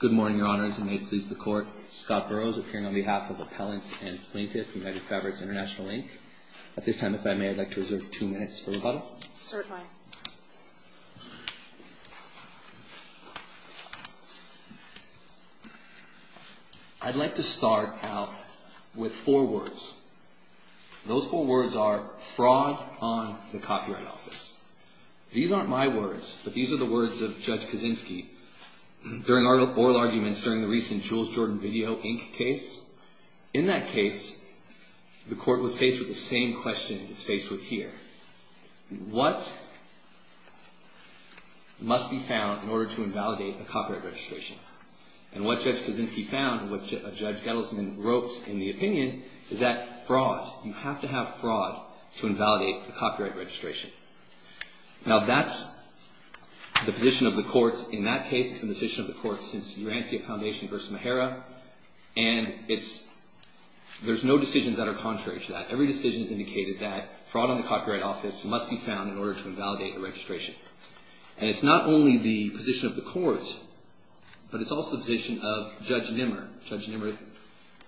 Good morning, Your Honors, and may it please the Court, Scott Burrows appearing on behalf of Appellant and Plaintiff United Fabrics International, Inc. At this time, if I may, I'd like to reserve two minutes for rebuttal. Certainly. I'd like to start out with four words. Those four words are fraud on the Copyright Office. These aren't my words, but these are the words of Judge Kaczynski during oral arguments during the recent Jules Jordan Video, Inc. case. In that case, the Court was faced with the same question it's faced with here. What must be found in order to invalidate a copyright registration? And what Judge Kaczynski found, what Judge Gettlesman wrote in the opinion, is that fraud, you have to have fraud to invalidate a copyright registration. Now, that's the position of the Court. In that case, it's been the position of the Court since Urantia Foundation v. Mahara, and there's no decisions that are contrary to that. Every decision has indicated that fraud on the Copyright Office must be found in order to invalidate the registration. And it's not only the position of the Court, but it's also the position of Judge Nimmer. Judge Nimmer,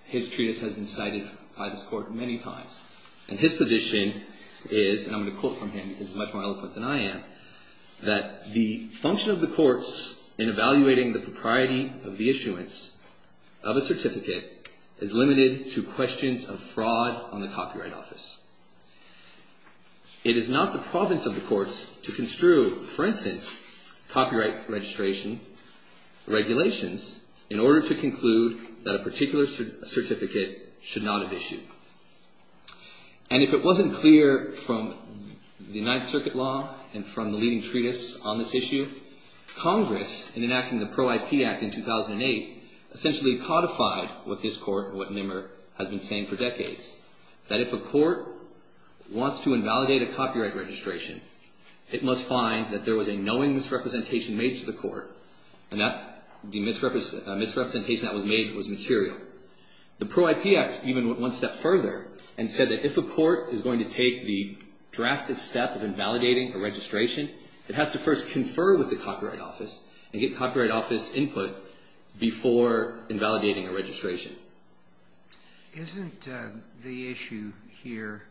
his treatise has been cited by this Court many times. And his position is, and I'm going to quote from him because he's much more eloquent than I am, that the function of the Courts in evaluating the propriety of the issuance of a certificate is limited to questions of fraud on the Copyright Office. It is not the province of the Courts to construe, for instance, copyright registration regulations in order to conclude that a particular certificate should not have issued. And if it wasn't clear from the Ninth Circuit law and from the leading treatise on this issue, Congress, in enacting the Pro-IP Act in 2008, essentially codified what this Court, what Nimmer, has been saying for decades. That if a court wants to invalidate a copyright registration, it must find that there was a knowing misrepresentation made to the court, and that the misrepresentation that was made was material. The Pro-IP Act even went one step further and said that if a court is going to take the drastic step of invalidating a registration, it has to first confer with the Copyright Office and get Copyright Office input before invalidating a registration. Isn't the issue here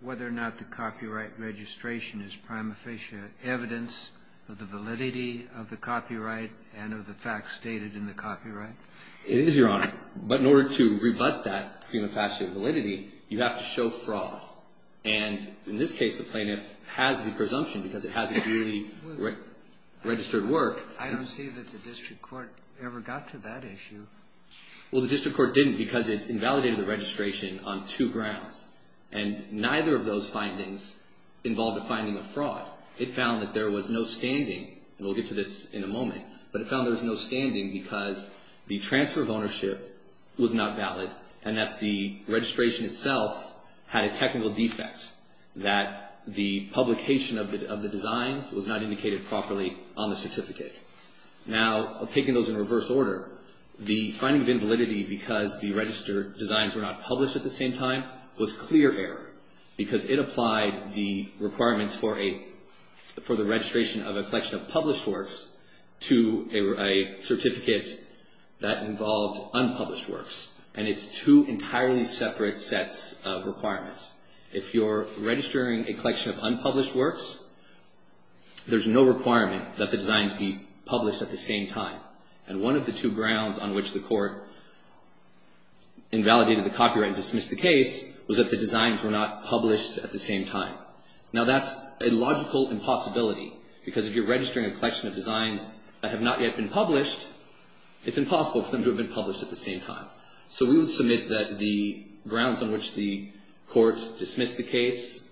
whether or not the copyright registration is prima facie evidence of the validity of the copyright and of the facts stated in the copyright? It is, Your Honor. But in order to rebut that prima facie validity, you have to show fraud. And in this case, the plaintiff has the presumption because it has a duly registered work. I don't see that the district court ever got to that issue. Well, the district court didn't because it invalidated the registration on two grounds. And neither of those findings involved a finding of fraud. It found that there was no standing, and we'll get to this in a moment, but it found there was no standing because the transfer of ownership was not valid, and that the registration itself had a technical defect, that the publication of the designs was not indicated properly on the certificate. Now, taking those in reverse order, the finding of invalidity because the registered designs were not published at the same time was clear error because it applied the requirements for the registration of a collection of published works to a certificate that involved unpublished works. And it's two entirely separate sets of requirements. If you're registering a collection of unpublished works, there's no requirement that the designs be published at the same time. And one of the two grounds on which the court invalidated the copyright and dismissed the case was that the designs were not published at the same time. Now, that's a logical impossibility because if you're registering a collection of designs that have not yet been published, it's impossible for them to have been published at the same time. So we would submit that the grounds on which the court dismissed the case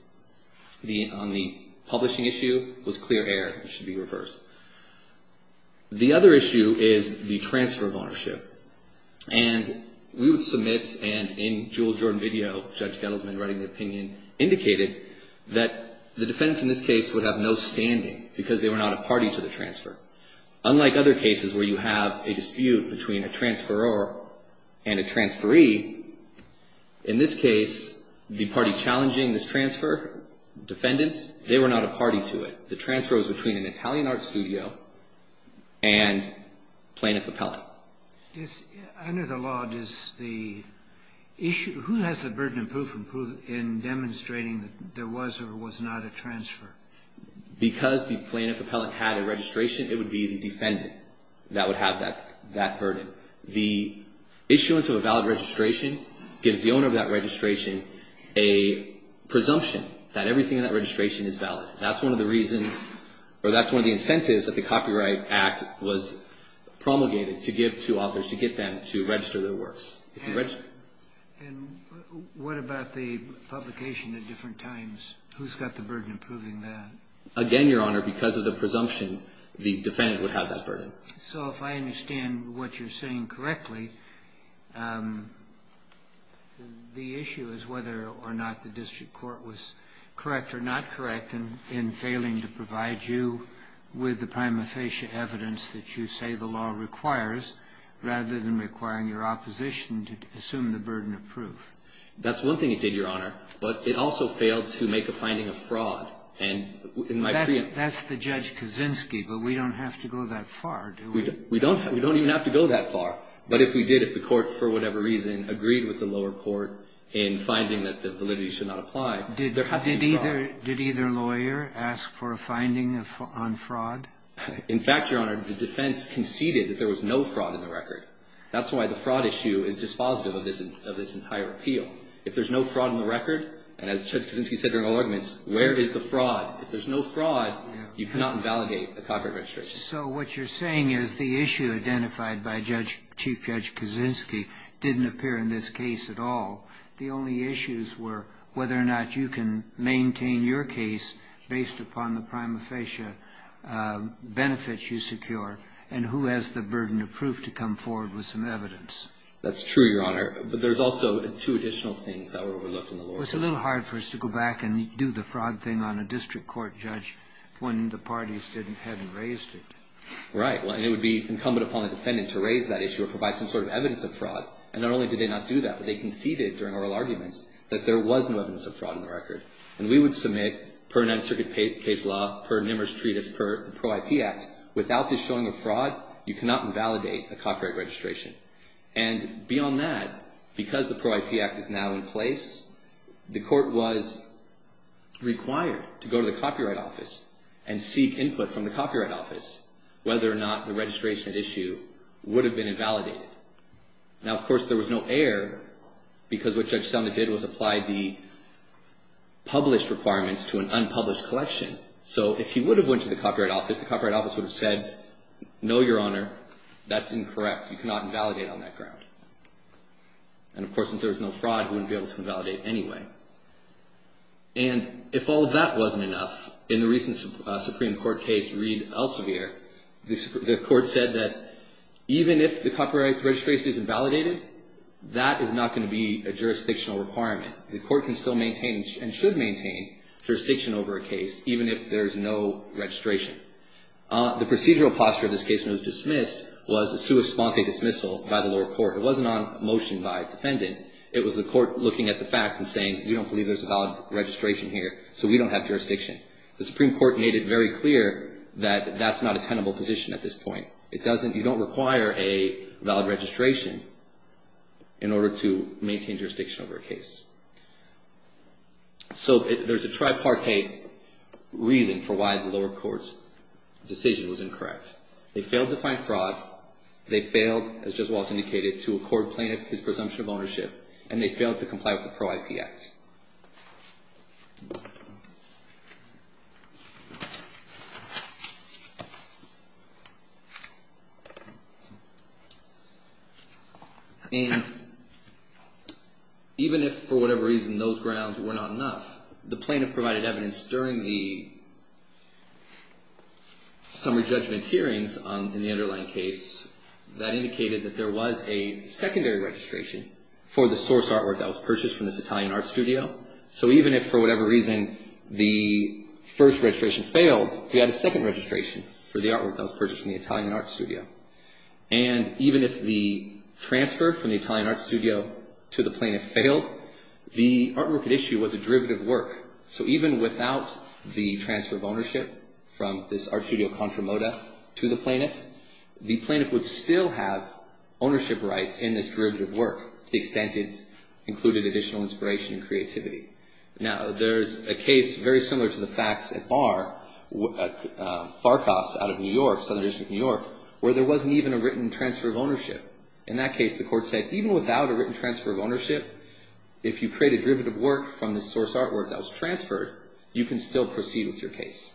on the publishing issue was clear error. It should be reversed. The other issue is the transfer of ownership. And we would submit, and in Jewel Jordan video, Judge Gettlesman writing the opinion, indicated that the defendants in this case would have no standing because they were not a party to the transfer. Unlike other cases where you have a dispute between a transferor and a transferee, in this case, the party challenging this transfer, defendants, they were not a party to it. The transfer was between an Italian art studio and plaintiff appellate. Yes. Under the law, does the issue, who has the burden of proof in demonstrating that there was or was not a transfer? Because the plaintiff appellate had a registration, it would be the defendant that would have that burden. The issuance of a valid registration gives the owner of that registration a presumption that everything in that registration is valid. That's one of the reasons, or that's one of the incentives that the Copyright Act was promulgated to give to authors, And what about the publication at different times? Who's got the burden of proving that? Again, Your Honor, because of the presumption, the defendant would have that burden. So if I understand what you're saying correctly, the issue is whether or not the district court was correct or not correct in failing to provide you with the prima facie evidence that you say the law requires, rather than requiring your opposition to assume the burden of proof. That's one thing it did, Your Honor. But it also failed to make a finding of fraud. And in my preemption That's the Judge Kaczynski, but we don't have to go that far, do we? We don't even have to go that far. But if we did, if the court, for whatever reason, agreed with the lower court in finding that the validity should not apply, there has to be fraud. Did either lawyer ask for a finding on fraud? In fact, Your Honor, the defense conceded that there was no fraud in the record. That's why the fraud issue is dispositive of this entire appeal. If there's no fraud in the record, and as Judge Kaczynski said during all arguments, where is the fraud? If there's no fraud, you cannot invalidate the contract registration. So what you're saying is the issue identified by Chief Judge Kaczynski didn't appear in this case at all. The only issues were whether or not you can maintain your case based upon the prima facie benefits you secure and who has the burden of proof to come forward with some evidence. That's true, Your Honor. But there's also two additional things that were overlooked in the lower court. It was a little hard for us to go back and do the fraud thing on a district court judge when the parties hadn't raised it. Right. And it would be incumbent upon the defendant to raise that issue or provide some sort of evidence of fraud. And not only did they not do that, but they conceded during oral arguments that there was no evidence of fraud in the record. And we would submit, per Ninth Circuit case law, per Nimmer's treatise, per the Pro-IP Act, without this showing of fraud, you cannot invalidate a copyright registration. And beyond that, because the Pro-IP Act is now in place, the court was required to go to the Copyright Office and seek input from the Copyright Office whether or not the registration at issue would have been invalidated. Now, of course, there was no error because what Judge Sumner did was apply the published requirements to an unpublished collection. So if he would have went to the Copyright Office, the Copyright Office would have said, no, Your Honor, that's incorrect. You cannot invalidate on that ground. And, of course, since there was no fraud, he wouldn't be able to invalidate anyway. And if all of that wasn't enough, in the recent Supreme Court case, Reed Elsevier, the court said that even if the copyright registration is invalidated, that is not going to be a jurisdictional requirement. The court can still maintain and should maintain jurisdiction over a case even if there is no registration. The procedural posture of this case when it was dismissed was a sui sponte dismissal by the lower court. It wasn't on motion by defendant. It was the court looking at the facts and saying, we don't believe there's a valid registration here, so we don't have jurisdiction. The Supreme Court made it very clear that that's not a tenable position at this point. You don't require a valid registration in order to maintain jurisdiction over a case. So there's a tripartite reason for why the lower court's decision was incorrect. They failed to find fraud. They failed, as Judge Walz indicated, to accord plaintiff his presumption of ownership, and they failed to comply with the Pro-IP Act. And even if for whatever reason those grounds were not enough, the plaintiff provided evidence during the summary judgment hearings in the underlying case that indicated that there was a secondary registration for the source artwork that was purchased from this Italian art studio. So even if for whatever reason the first registration failed, we had a second registration for the artwork that was purchased from the Italian art studio. And even if the transfer from the Italian art studio to the plaintiff failed, the artwork at issue was a derivative work. So even without the transfer of ownership from this art studio, Contra Moda, to the plaintiff, the plaintiff would still have ownership rights in this derivative work to the extent it included additional inspiration and creativity. Now, there's a case very similar to the facts at Bar, Farcos out of New York, Southern District of New York, where there wasn't even a written transfer of ownership. In that case, the court said even without a written transfer of ownership, if you create a derivative work from the source artwork that was transferred, you can still proceed with your case.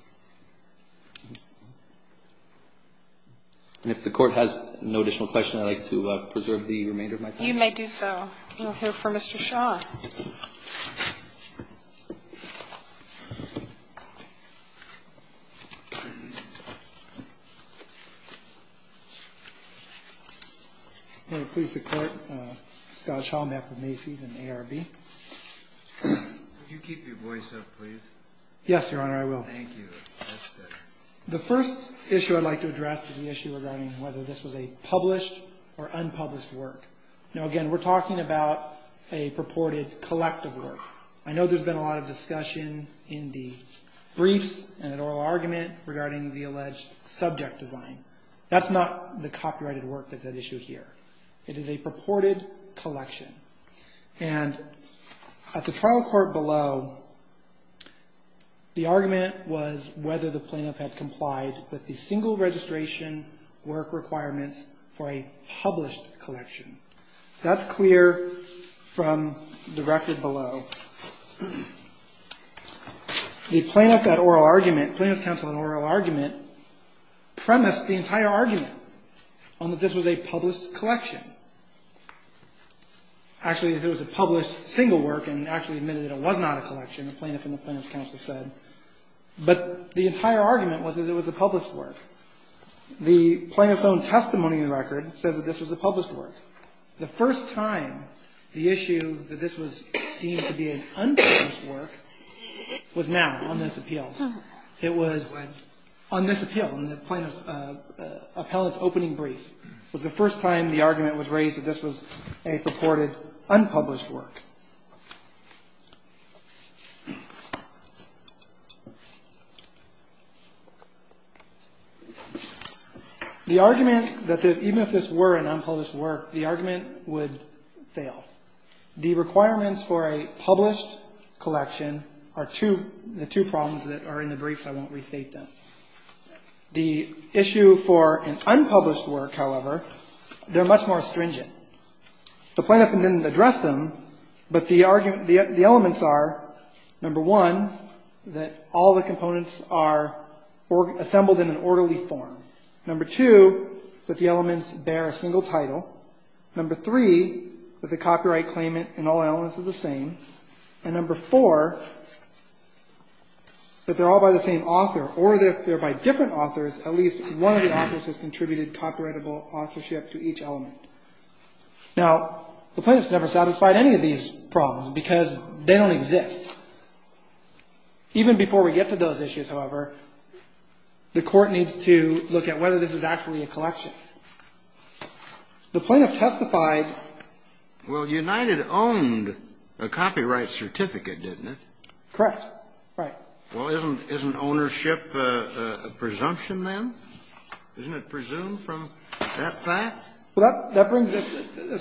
And if the court has no additional questions, I'd like to preserve the remainder of my time. You may do so. We'll hear from Mr. Shaw. Hello, police and court. Scott Shaw, I'm here for Macy's and ARB. Could you keep your voice up, please? Yes, Your Honor, I will. Thank you. That's better. The first issue I'd like to address is the issue regarding whether this was a published or unpublished work. Now, again, we're talking about a purported collective work. I know there's been a lot of discussion in the briefs and in oral argument regarding the alleged subject design. That's not the copyrighted work that's at issue here. It is a purported collection. And at the trial court below, the argument was whether the plaintiff had complied with the single registration work requirements for a published collection. That's clear from the record below. The plaintiff at oral argument, plaintiff's counsel at oral argument, premised the entire argument on that this was a published collection. Actually, it was a published single work and actually admitted that it was not a collection, the plaintiff and the plaintiff's counsel said. But the entire argument was that it was a published work. The plaintiff's own testimony in the record says that this was a published work. The first time the issue that this was deemed to be an unpublished work was now on this appeal. It was on this appeal and the plaintiff's appellate's opening brief was the first time the argument was raised that this was a purported unpublished work. The argument that even if this were an unpublished work, the argument would fail. The requirements for a published collection are the two problems that are in the brief. I won't restate them. The issue for an unpublished work, however, they're much more stringent. The plaintiff didn't address them, but the argument, the elements are, number one, that all the components are assembled in an orderly form. Number two, that the elements bear a single title. Number three, that the copyright claimant and all elements are the same. And number four, that they're all by the same author or they're by different authors. At least one of the authors has contributed copyrightable authorship to each element. Now, the plaintiff's never satisfied any of these problems because they don't exist. Even before we get to those issues, however, the Court needs to look at whether this is actually a collection. The plaintiff testified. Well, United owned a copyright certificate, didn't it? Correct. Right. Well, isn't ownership a presumption then? Isn't it presumed from that fact? Well, that brings us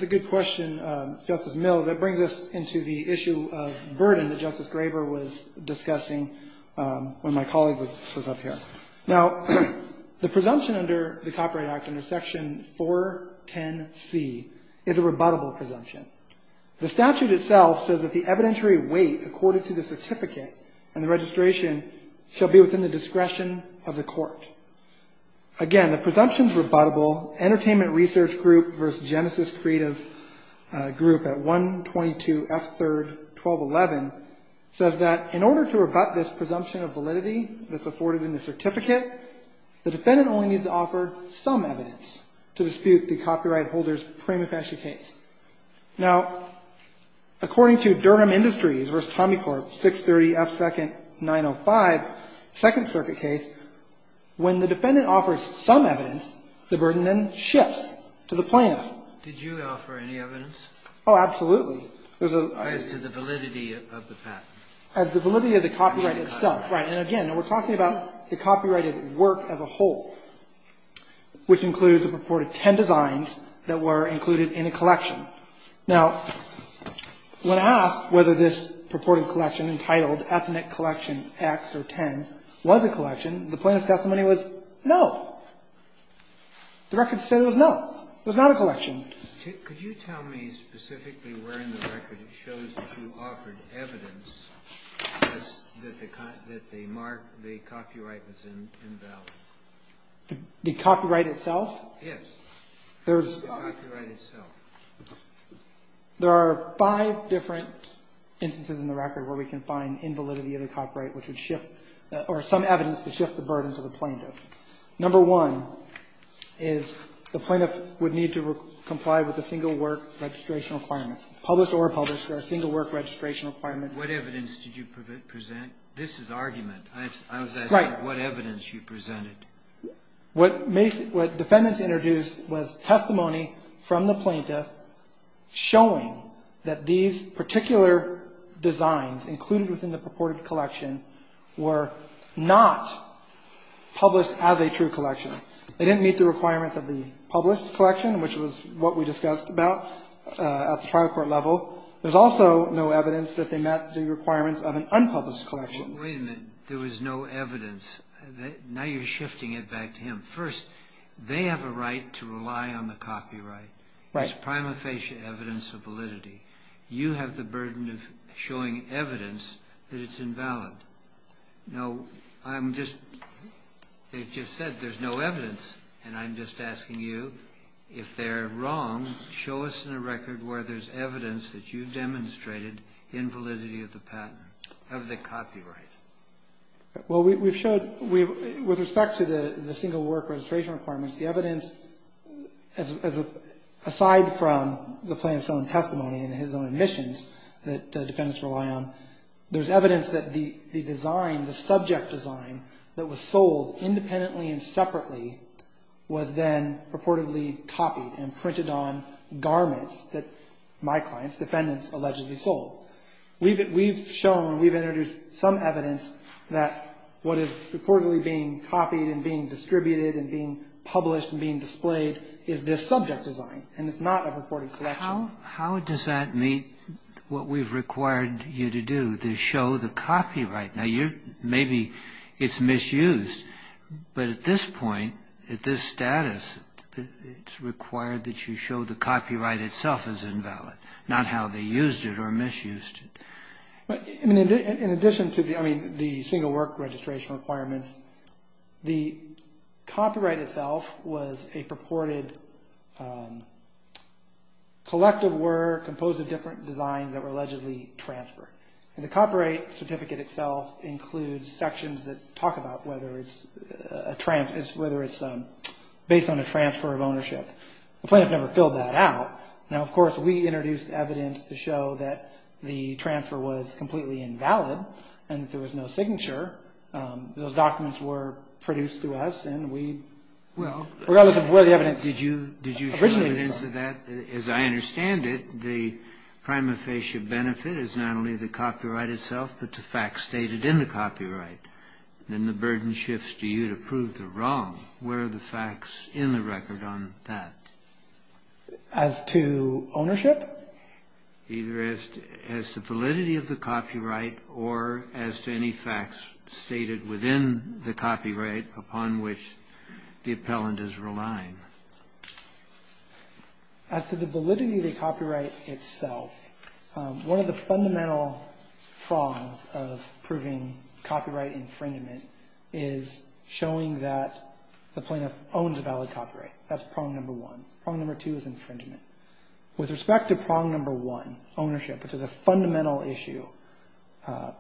to a good question, Justice Mills. That brings us into the issue of burden that Justice Graber was discussing when my colleague was up here. Now, the presumption under the Copyright Act, under Section 410C, is a rebuttable presumption. The statute itself says that the evidentiary weight accorded to the certificate and the registration shall be within the discretion of the court. Again, the presumption's rebuttable. Entertainment Research Group v. Genesis Creative Group at 122F3-1211 says that in order to rebut this presumption of validity that's afforded in the certificate, the defendant only needs to offer some evidence to dispute the copyright holder's prima facie case. Now, according to Durham Industries v. Tommy Corp. 630F2-905, second circuit case, when the defendant offers some evidence, the burden then shifts to the plaintiff. Did you offer any evidence? Oh, absolutely. As to the validity of the patent? As to the validity of the copyright itself. Right. And again, we're talking about the copyrighted work as a whole, which includes a purported 10 designs that were included in a collection. Now, when asked whether this purported collection, entitled Ethnic Collection X or 10, was a collection, the plaintiff's testimony was no. The record said it was no. It was not a collection. Could you tell me specifically where in the record it shows that you offered evidence that the copyright was invalid? The copyright itself? Yes. The copyright itself. There are five different instances in the record where we can find invalidity of the copyright, which would shift or some evidence to shift the burden to the plaintiff. Number one is the plaintiff would need to comply with the single work registration requirement. Published or unpublished, there are single work registration requirements. What evidence did you present? This is argument. I was asking what evidence you presented. What defendants introduced was testimony from the plaintiff showing that these particular designs included within the purported collection were not published as a true collection. They didn't meet the requirements of the published collection, which was what we discussed about at the trial court level. There's also no evidence that they met the requirements of an unpublished collection. Wait a minute. There was no evidence. Now you're shifting it back to him. First, they have a right to rely on the copyright. Right. It's prima facie evidence of validity. You have the burden of showing evidence that it's invalid. No, I'm just they've just said there's no evidence, and I'm just asking you, if they're wrong, show us in a record where there's evidence that you've demonstrated invalidity of the patent, of the copyright. Well, we've showed with respect to the single work registration requirements, the evidence, aside from the plaintiff's own testimony and his own admissions that defendants rely on, there's evidence that the design, the subject design, that was sold independently and separately was then purportedly copied and printed on garments that my client's defendants allegedly sold. We've shown, we've introduced some evidence that what is purportedly being copied and being distributed and being published and being displayed is this subject design, and it's not a purported collection. How does that meet what we've required you to do, to show the copyright? Now, maybe it's misused, but at this point, at this status, it's required that you show the copyright itself is invalid, not how they used it or misused it. In addition to the single work registration requirements, the copyright itself was a purported collective work composed of different designs that were allegedly transferred. And the copyright certificate itself includes sections that talk about whether it's a transfer, whether it's based on a transfer of ownership. The plaintiff never filled that out. Now, of course, we introduced evidence to show that the transfer was completely invalid and there was no signature. Those documents were produced to us, and we, regardless of where the evidence originated from. But as I understand it, the prima facie benefit is not only the copyright itself, but the facts stated in the copyright. Then the burden shifts to you to prove the wrong. Where are the facts in the record on that? As to ownership? Either as to validity of the copyright or as to any facts stated within the copyright upon which the appellant is relying? As to the validity of the copyright itself, one of the fundamental prongs of proving copyright infringement is showing that the plaintiff owns a valid copyright. That's prong number one. Prong number two is infringement. With respect to prong number one, ownership, which is a fundamental issue,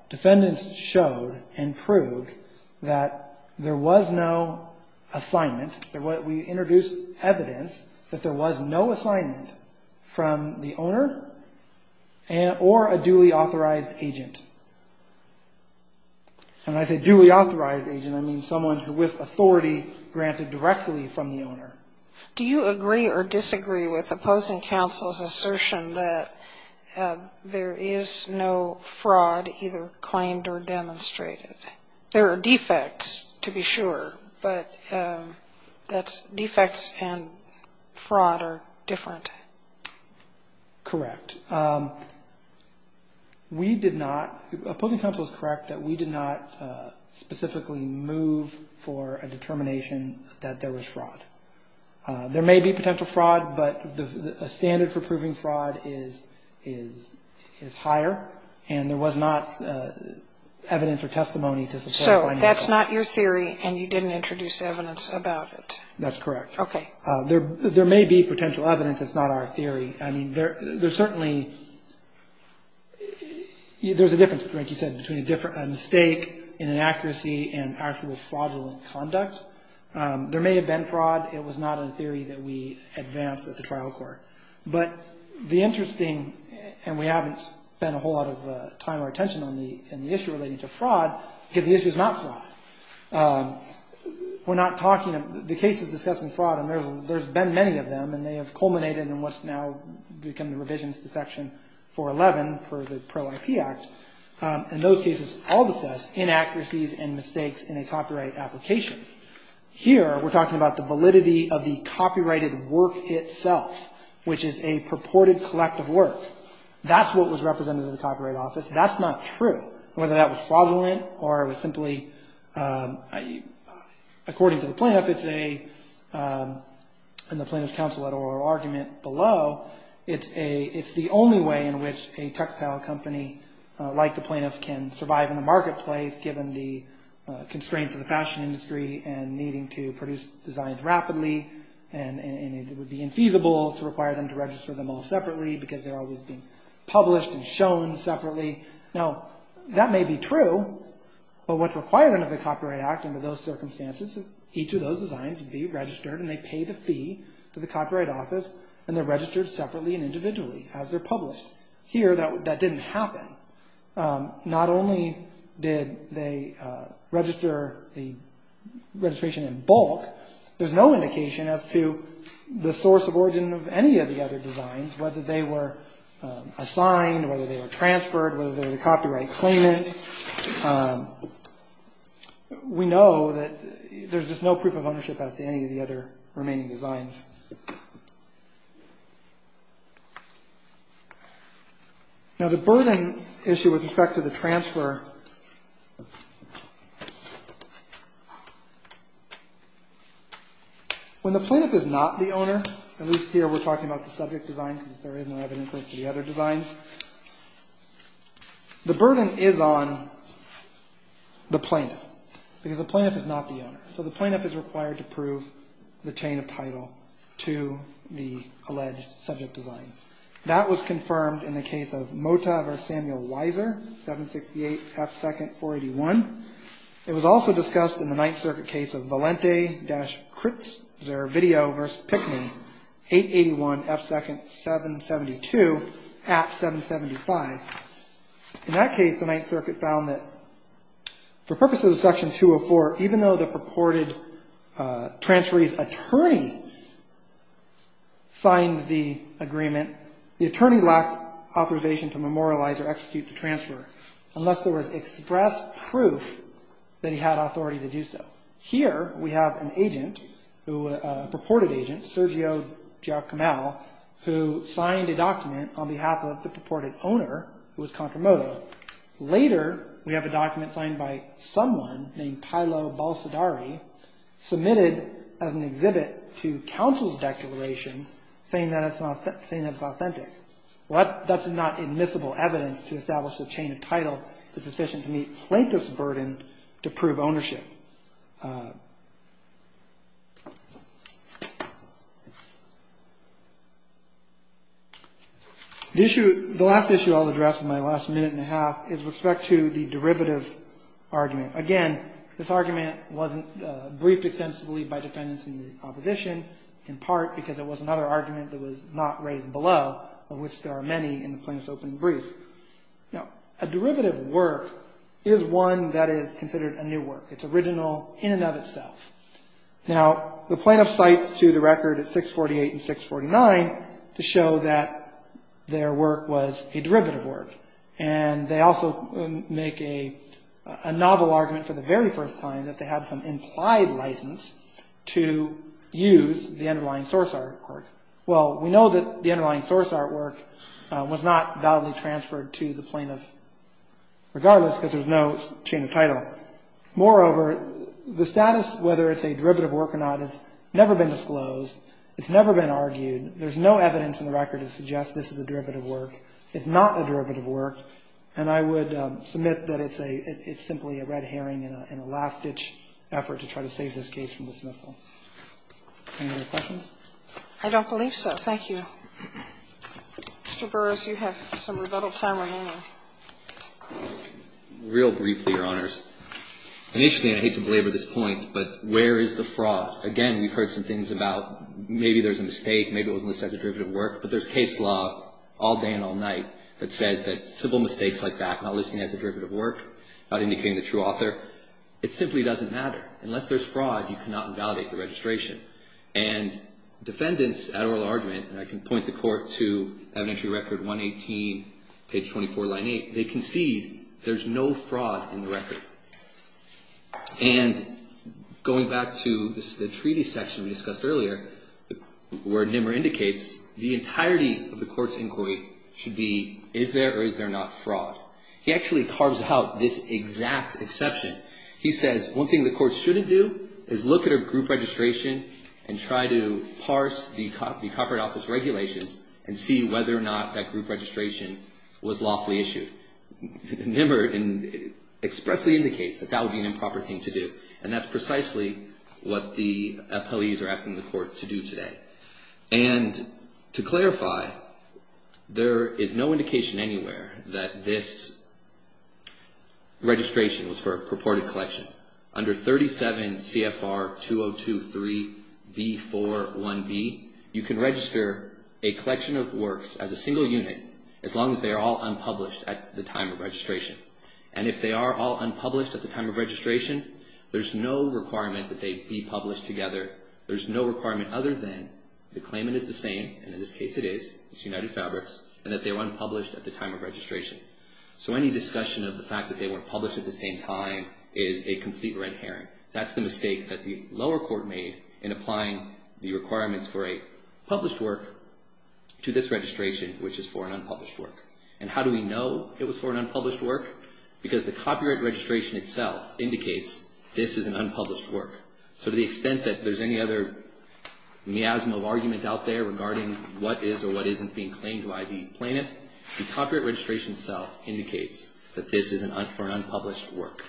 defendants showed and proved that there was no assignment. We introduced evidence that there was no assignment from the owner or a duly authorized agent. And when I say duly authorized agent, I mean someone with authority granted directly from the owner. Do you agree or disagree with opposing counsel's assertion that there is no fraud either claimed or demonstrated? There are defects, to be sure, but defects and fraud are different. Correct. We did not. Opposing counsel is correct that we did not specifically move for a determination that there was fraud. There may be potential fraud, but a standard for proving fraud is higher, and there was not evidence or testimony to support finding fraud. So that's not your theory, and you didn't introduce evidence about it? That's correct. Okay. There may be potential evidence. It's not our theory. I mean, there's certainly – there's a difference, like you said, between a mistake, inaccuracy, and actual fraudulent conduct. There may have been fraud. It was not in theory that we advanced at the trial court. But the interesting – and we haven't spent a whole lot of time or attention on the issue relating to fraud, because the issue is not fraud. We're not talking – the case is discussing fraud, and there's been many of them, and they have culminated in what's now become the revisions to Section 411 for the Pro-IP Act. In those cases, all the steps, inaccuracies and mistakes in a copyright application. Here, we're talking about the validity of the copyrighted work itself, which is a purported collective work. That's what was represented in the Copyright Office. That's not true, whether that was fraudulent or it was simply – according to the plaintiff, it's a – in the Plaintiff's Counsel at Oral argument below, it's a – it's the only way in which a textile company like the plaintiff can survive in a marketplace, given the constraints of the fashion industry and needing to produce designs rapidly, and it would be infeasible to require them to register them all separately, because they're always being published and shown separately. Now, that may be true, but what's required under the Copyright Act under those circumstances is each of those designs would be registered, and they pay the fee to the Copyright Office, and they're registered separately and individually as they're published. Here, that didn't happen. Not only did they register the registration in bulk, there's no indication as to the source of origin of any of the other designs, whether they were assigned, whether they were transferred, whether they're the copyright claimant. We know that there's just no proof of ownership as to any of the other remaining designs. Now, the burden issue with respect to the transfer – when the plaintiff is not the owner, at least here we're talking about the subject design, because there is no evidence as to the other designs. The burden is on the plaintiff, because the plaintiff is not the owner. So the plaintiff is required to prove the chain of title to the alleged subject design. That was confirmed in the case of Mota v. Samuel Weiser, 768 F. 2nd, 481. It was also discussed in the Ninth Circuit case of Valente v. Cripps, their video v. Pickney, 881 F. 2nd, 772, at 775. In that case, the Ninth Circuit found that for purposes of Section 204, even though the purported transferee's attorney signed the agreement, the attorney lacked authorization to memorialize or execute the transfer, unless there was express proof that he had authority to do so. Here we have a purported agent, Sergio Giacomel, who signed a document on behalf of the purported owner, who was Contramoto. Later, we have a document signed by someone named Paolo Balsadari, submitted as an exhibit to counsel's declaration, saying that it's authentic. That's not admissible evidence to establish the chain of title is sufficient to meet plaintiff's burden to prove ownership. The last issue I'll address in my last minute and a half is with respect to the derivative argument. Again, this argument wasn't briefed extensively by defendants in the opposition, in part because it was another argument that was not raised below, of which there are many in the plaintiff's opening brief. A derivative work is one that is considered a new work. It's original in and of itself. Now, the plaintiff cites to the record at 648 and 649 to show that their work was a derivative work, and they also make a novel argument for the very first time that they have some implied license to use the underlying source artwork. Well, we know that the underlying source artwork was not validly transferred to the plaintiff, regardless, because there's no chain of title. Moreover, the status, whether it's a derivative work or not, has never been disclosed. It's never been argued. There's no evidence in the record to suggest this is a derivative work. It's not a derivative work, and I would submit that it's simply a red herring and a last-ditch effort to try to save this case from dismissal. Any other questions? I don't believe so. Thank you. Mr. Burris, you have some rebuttal time remaining. Real briefly, Your Honors. Initially, and I hate to belabor this point, but where is the fraud? Again, we've heard some things about maybe there's a mistake, maybe it wasn't listed as a derivative work, but there's case law all day and all night that says that simple mistakes like that, not listing it as a derivative work, not indicating the true author, it simply doesn't matter. Unless there's fraud, you cannot invalidate the registration. And defendants at oral argument, and I can point the court to evidentiary record 118, page 24, line 8, they concede there's no fraud in the record. And going back to the treaty section we discussed earlier, where Nimmer indicates, the entirety of the court's inquiry should be, is there or is there not fraud? He actually carves out this exact exception. He says one thing the court shouldn't do is look at a group registration and try to parse the corporate office regulations and see whether or not that group registration was lawfully issued. Nimmer expressly indicates that that would be an improper thing to do. And that's precisely what the appellees are asking the court to do today. And to clarify, there is no indication anywhere that this registration was for a recorded collection. Under 37 CFR 202.3b.4.1b, you can register a collection of works as a single unit as long as they are all unpublished at the time of registration. And if they are all unpublished at the time of registration, there's no requirement that they be published together. There's no requirement other than the claimant is the same, and in this case it is, it's United Fabrics, and that they were unpublished at the time of registration. So any discussion of the fact that they weren't published at the same time is a complete red herring. That's the mistake that the lower court made in applying the requirements for a published work to this registration, which is for an unpublished work. And how do we know it was for an unpublished work? Because the copyright registration itself indicates this is an unpublished work. So to the extent that there's any other miasma of argument out there regarding what is or what isn't being claimed by the plaintiff, the copyright registration itself indicates that this is for an unpublished work.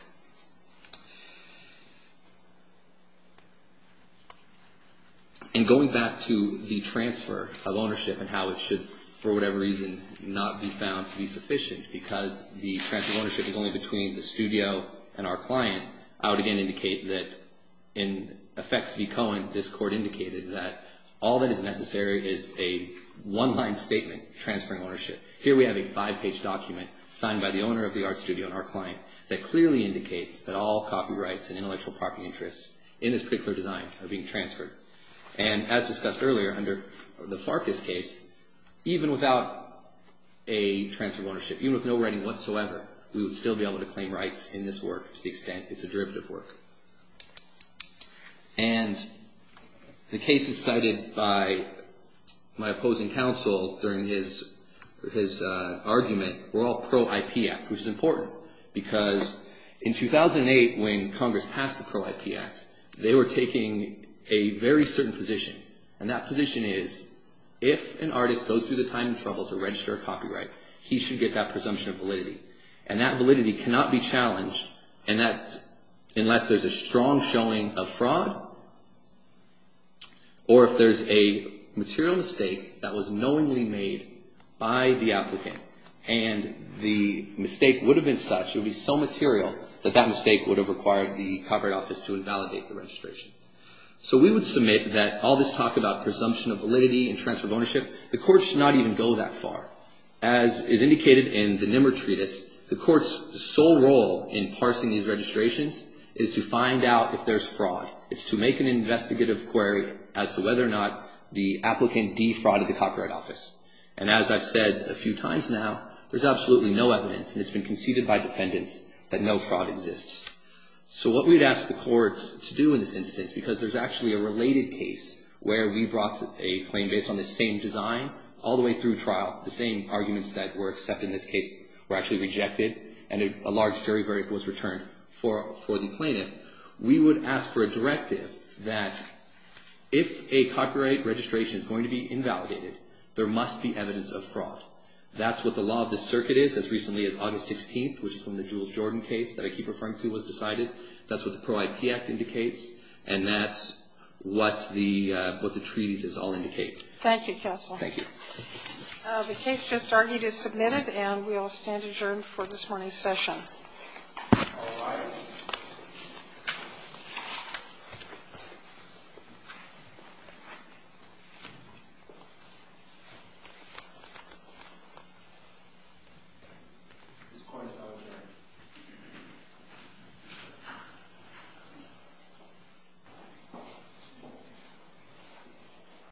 And going back to the transfer of ownership and how it should, for whatever reason, not be found to be sufficient because the transfer of ownership is only between the studio and our client, I would again indicate that in effects v. Cohen, this court indicated that all that is necessary is a one-line statement transferring ownership. Here we have a five-page document signed by the owner of the art studio and our client that clearly indicates that all copyrights and intellectual property interests in this particular design are being transferred. And as discussed earlier under the Farkas case, even without a transfer of ownership, even with no writing whatsoever, we would still be able to claim rights in this work to the extent it's a derivative work. And the cases cited by my opposing counsel during his argument were all pro-IP Act, which is important because in 2008 when Congress passed the pro-IP Act, they were taking a very certain position. And that position is if an artist goes through the time and trouble to register a copyright, he should get that presumption of validity. And that validity cannot be challenged unless there's a strong showing of fraud or if there's a material mistake that was knowingly made by the applicant. And the mistake would have been such, it would be so material, that that mistake would have required the Copyright Office to invalidate the registration. So we would submit that all this talk about presumption of validity and transfer of ownership, the court should not even go that far. As is indicated in the Nimmer Treatise, the court's sole role in parsing these registrations is to find out if there's fraud. It's to make an investigative query as to whether or not the applicant defrauded the Copyright Office. And as I've said a few times now, there's absolutely no evidence, and it's been conceded by defendants, that no fraud exists. So what we'd ask the court to do in this instance, because there's actually a related case where we brought a claim based on the same design all the way through trial, the same arguments that were accepted in this case were actually rejected, and a large jury verdict was returned for the plaintiff. We would ask for a directive that if a copyright registration is going to be invalidated, there must be evidence of fraud. That's what the law of the circuit is as recently as August 16th, which is when the Jules Jordan case that I keep referring to was decided. That's what the Pro-IP Act indicates, and that's what the treaties all indicate. Thank you, Counsel. Thank you. The case just argued is submitted, and we will stand adjourned for this morning's session.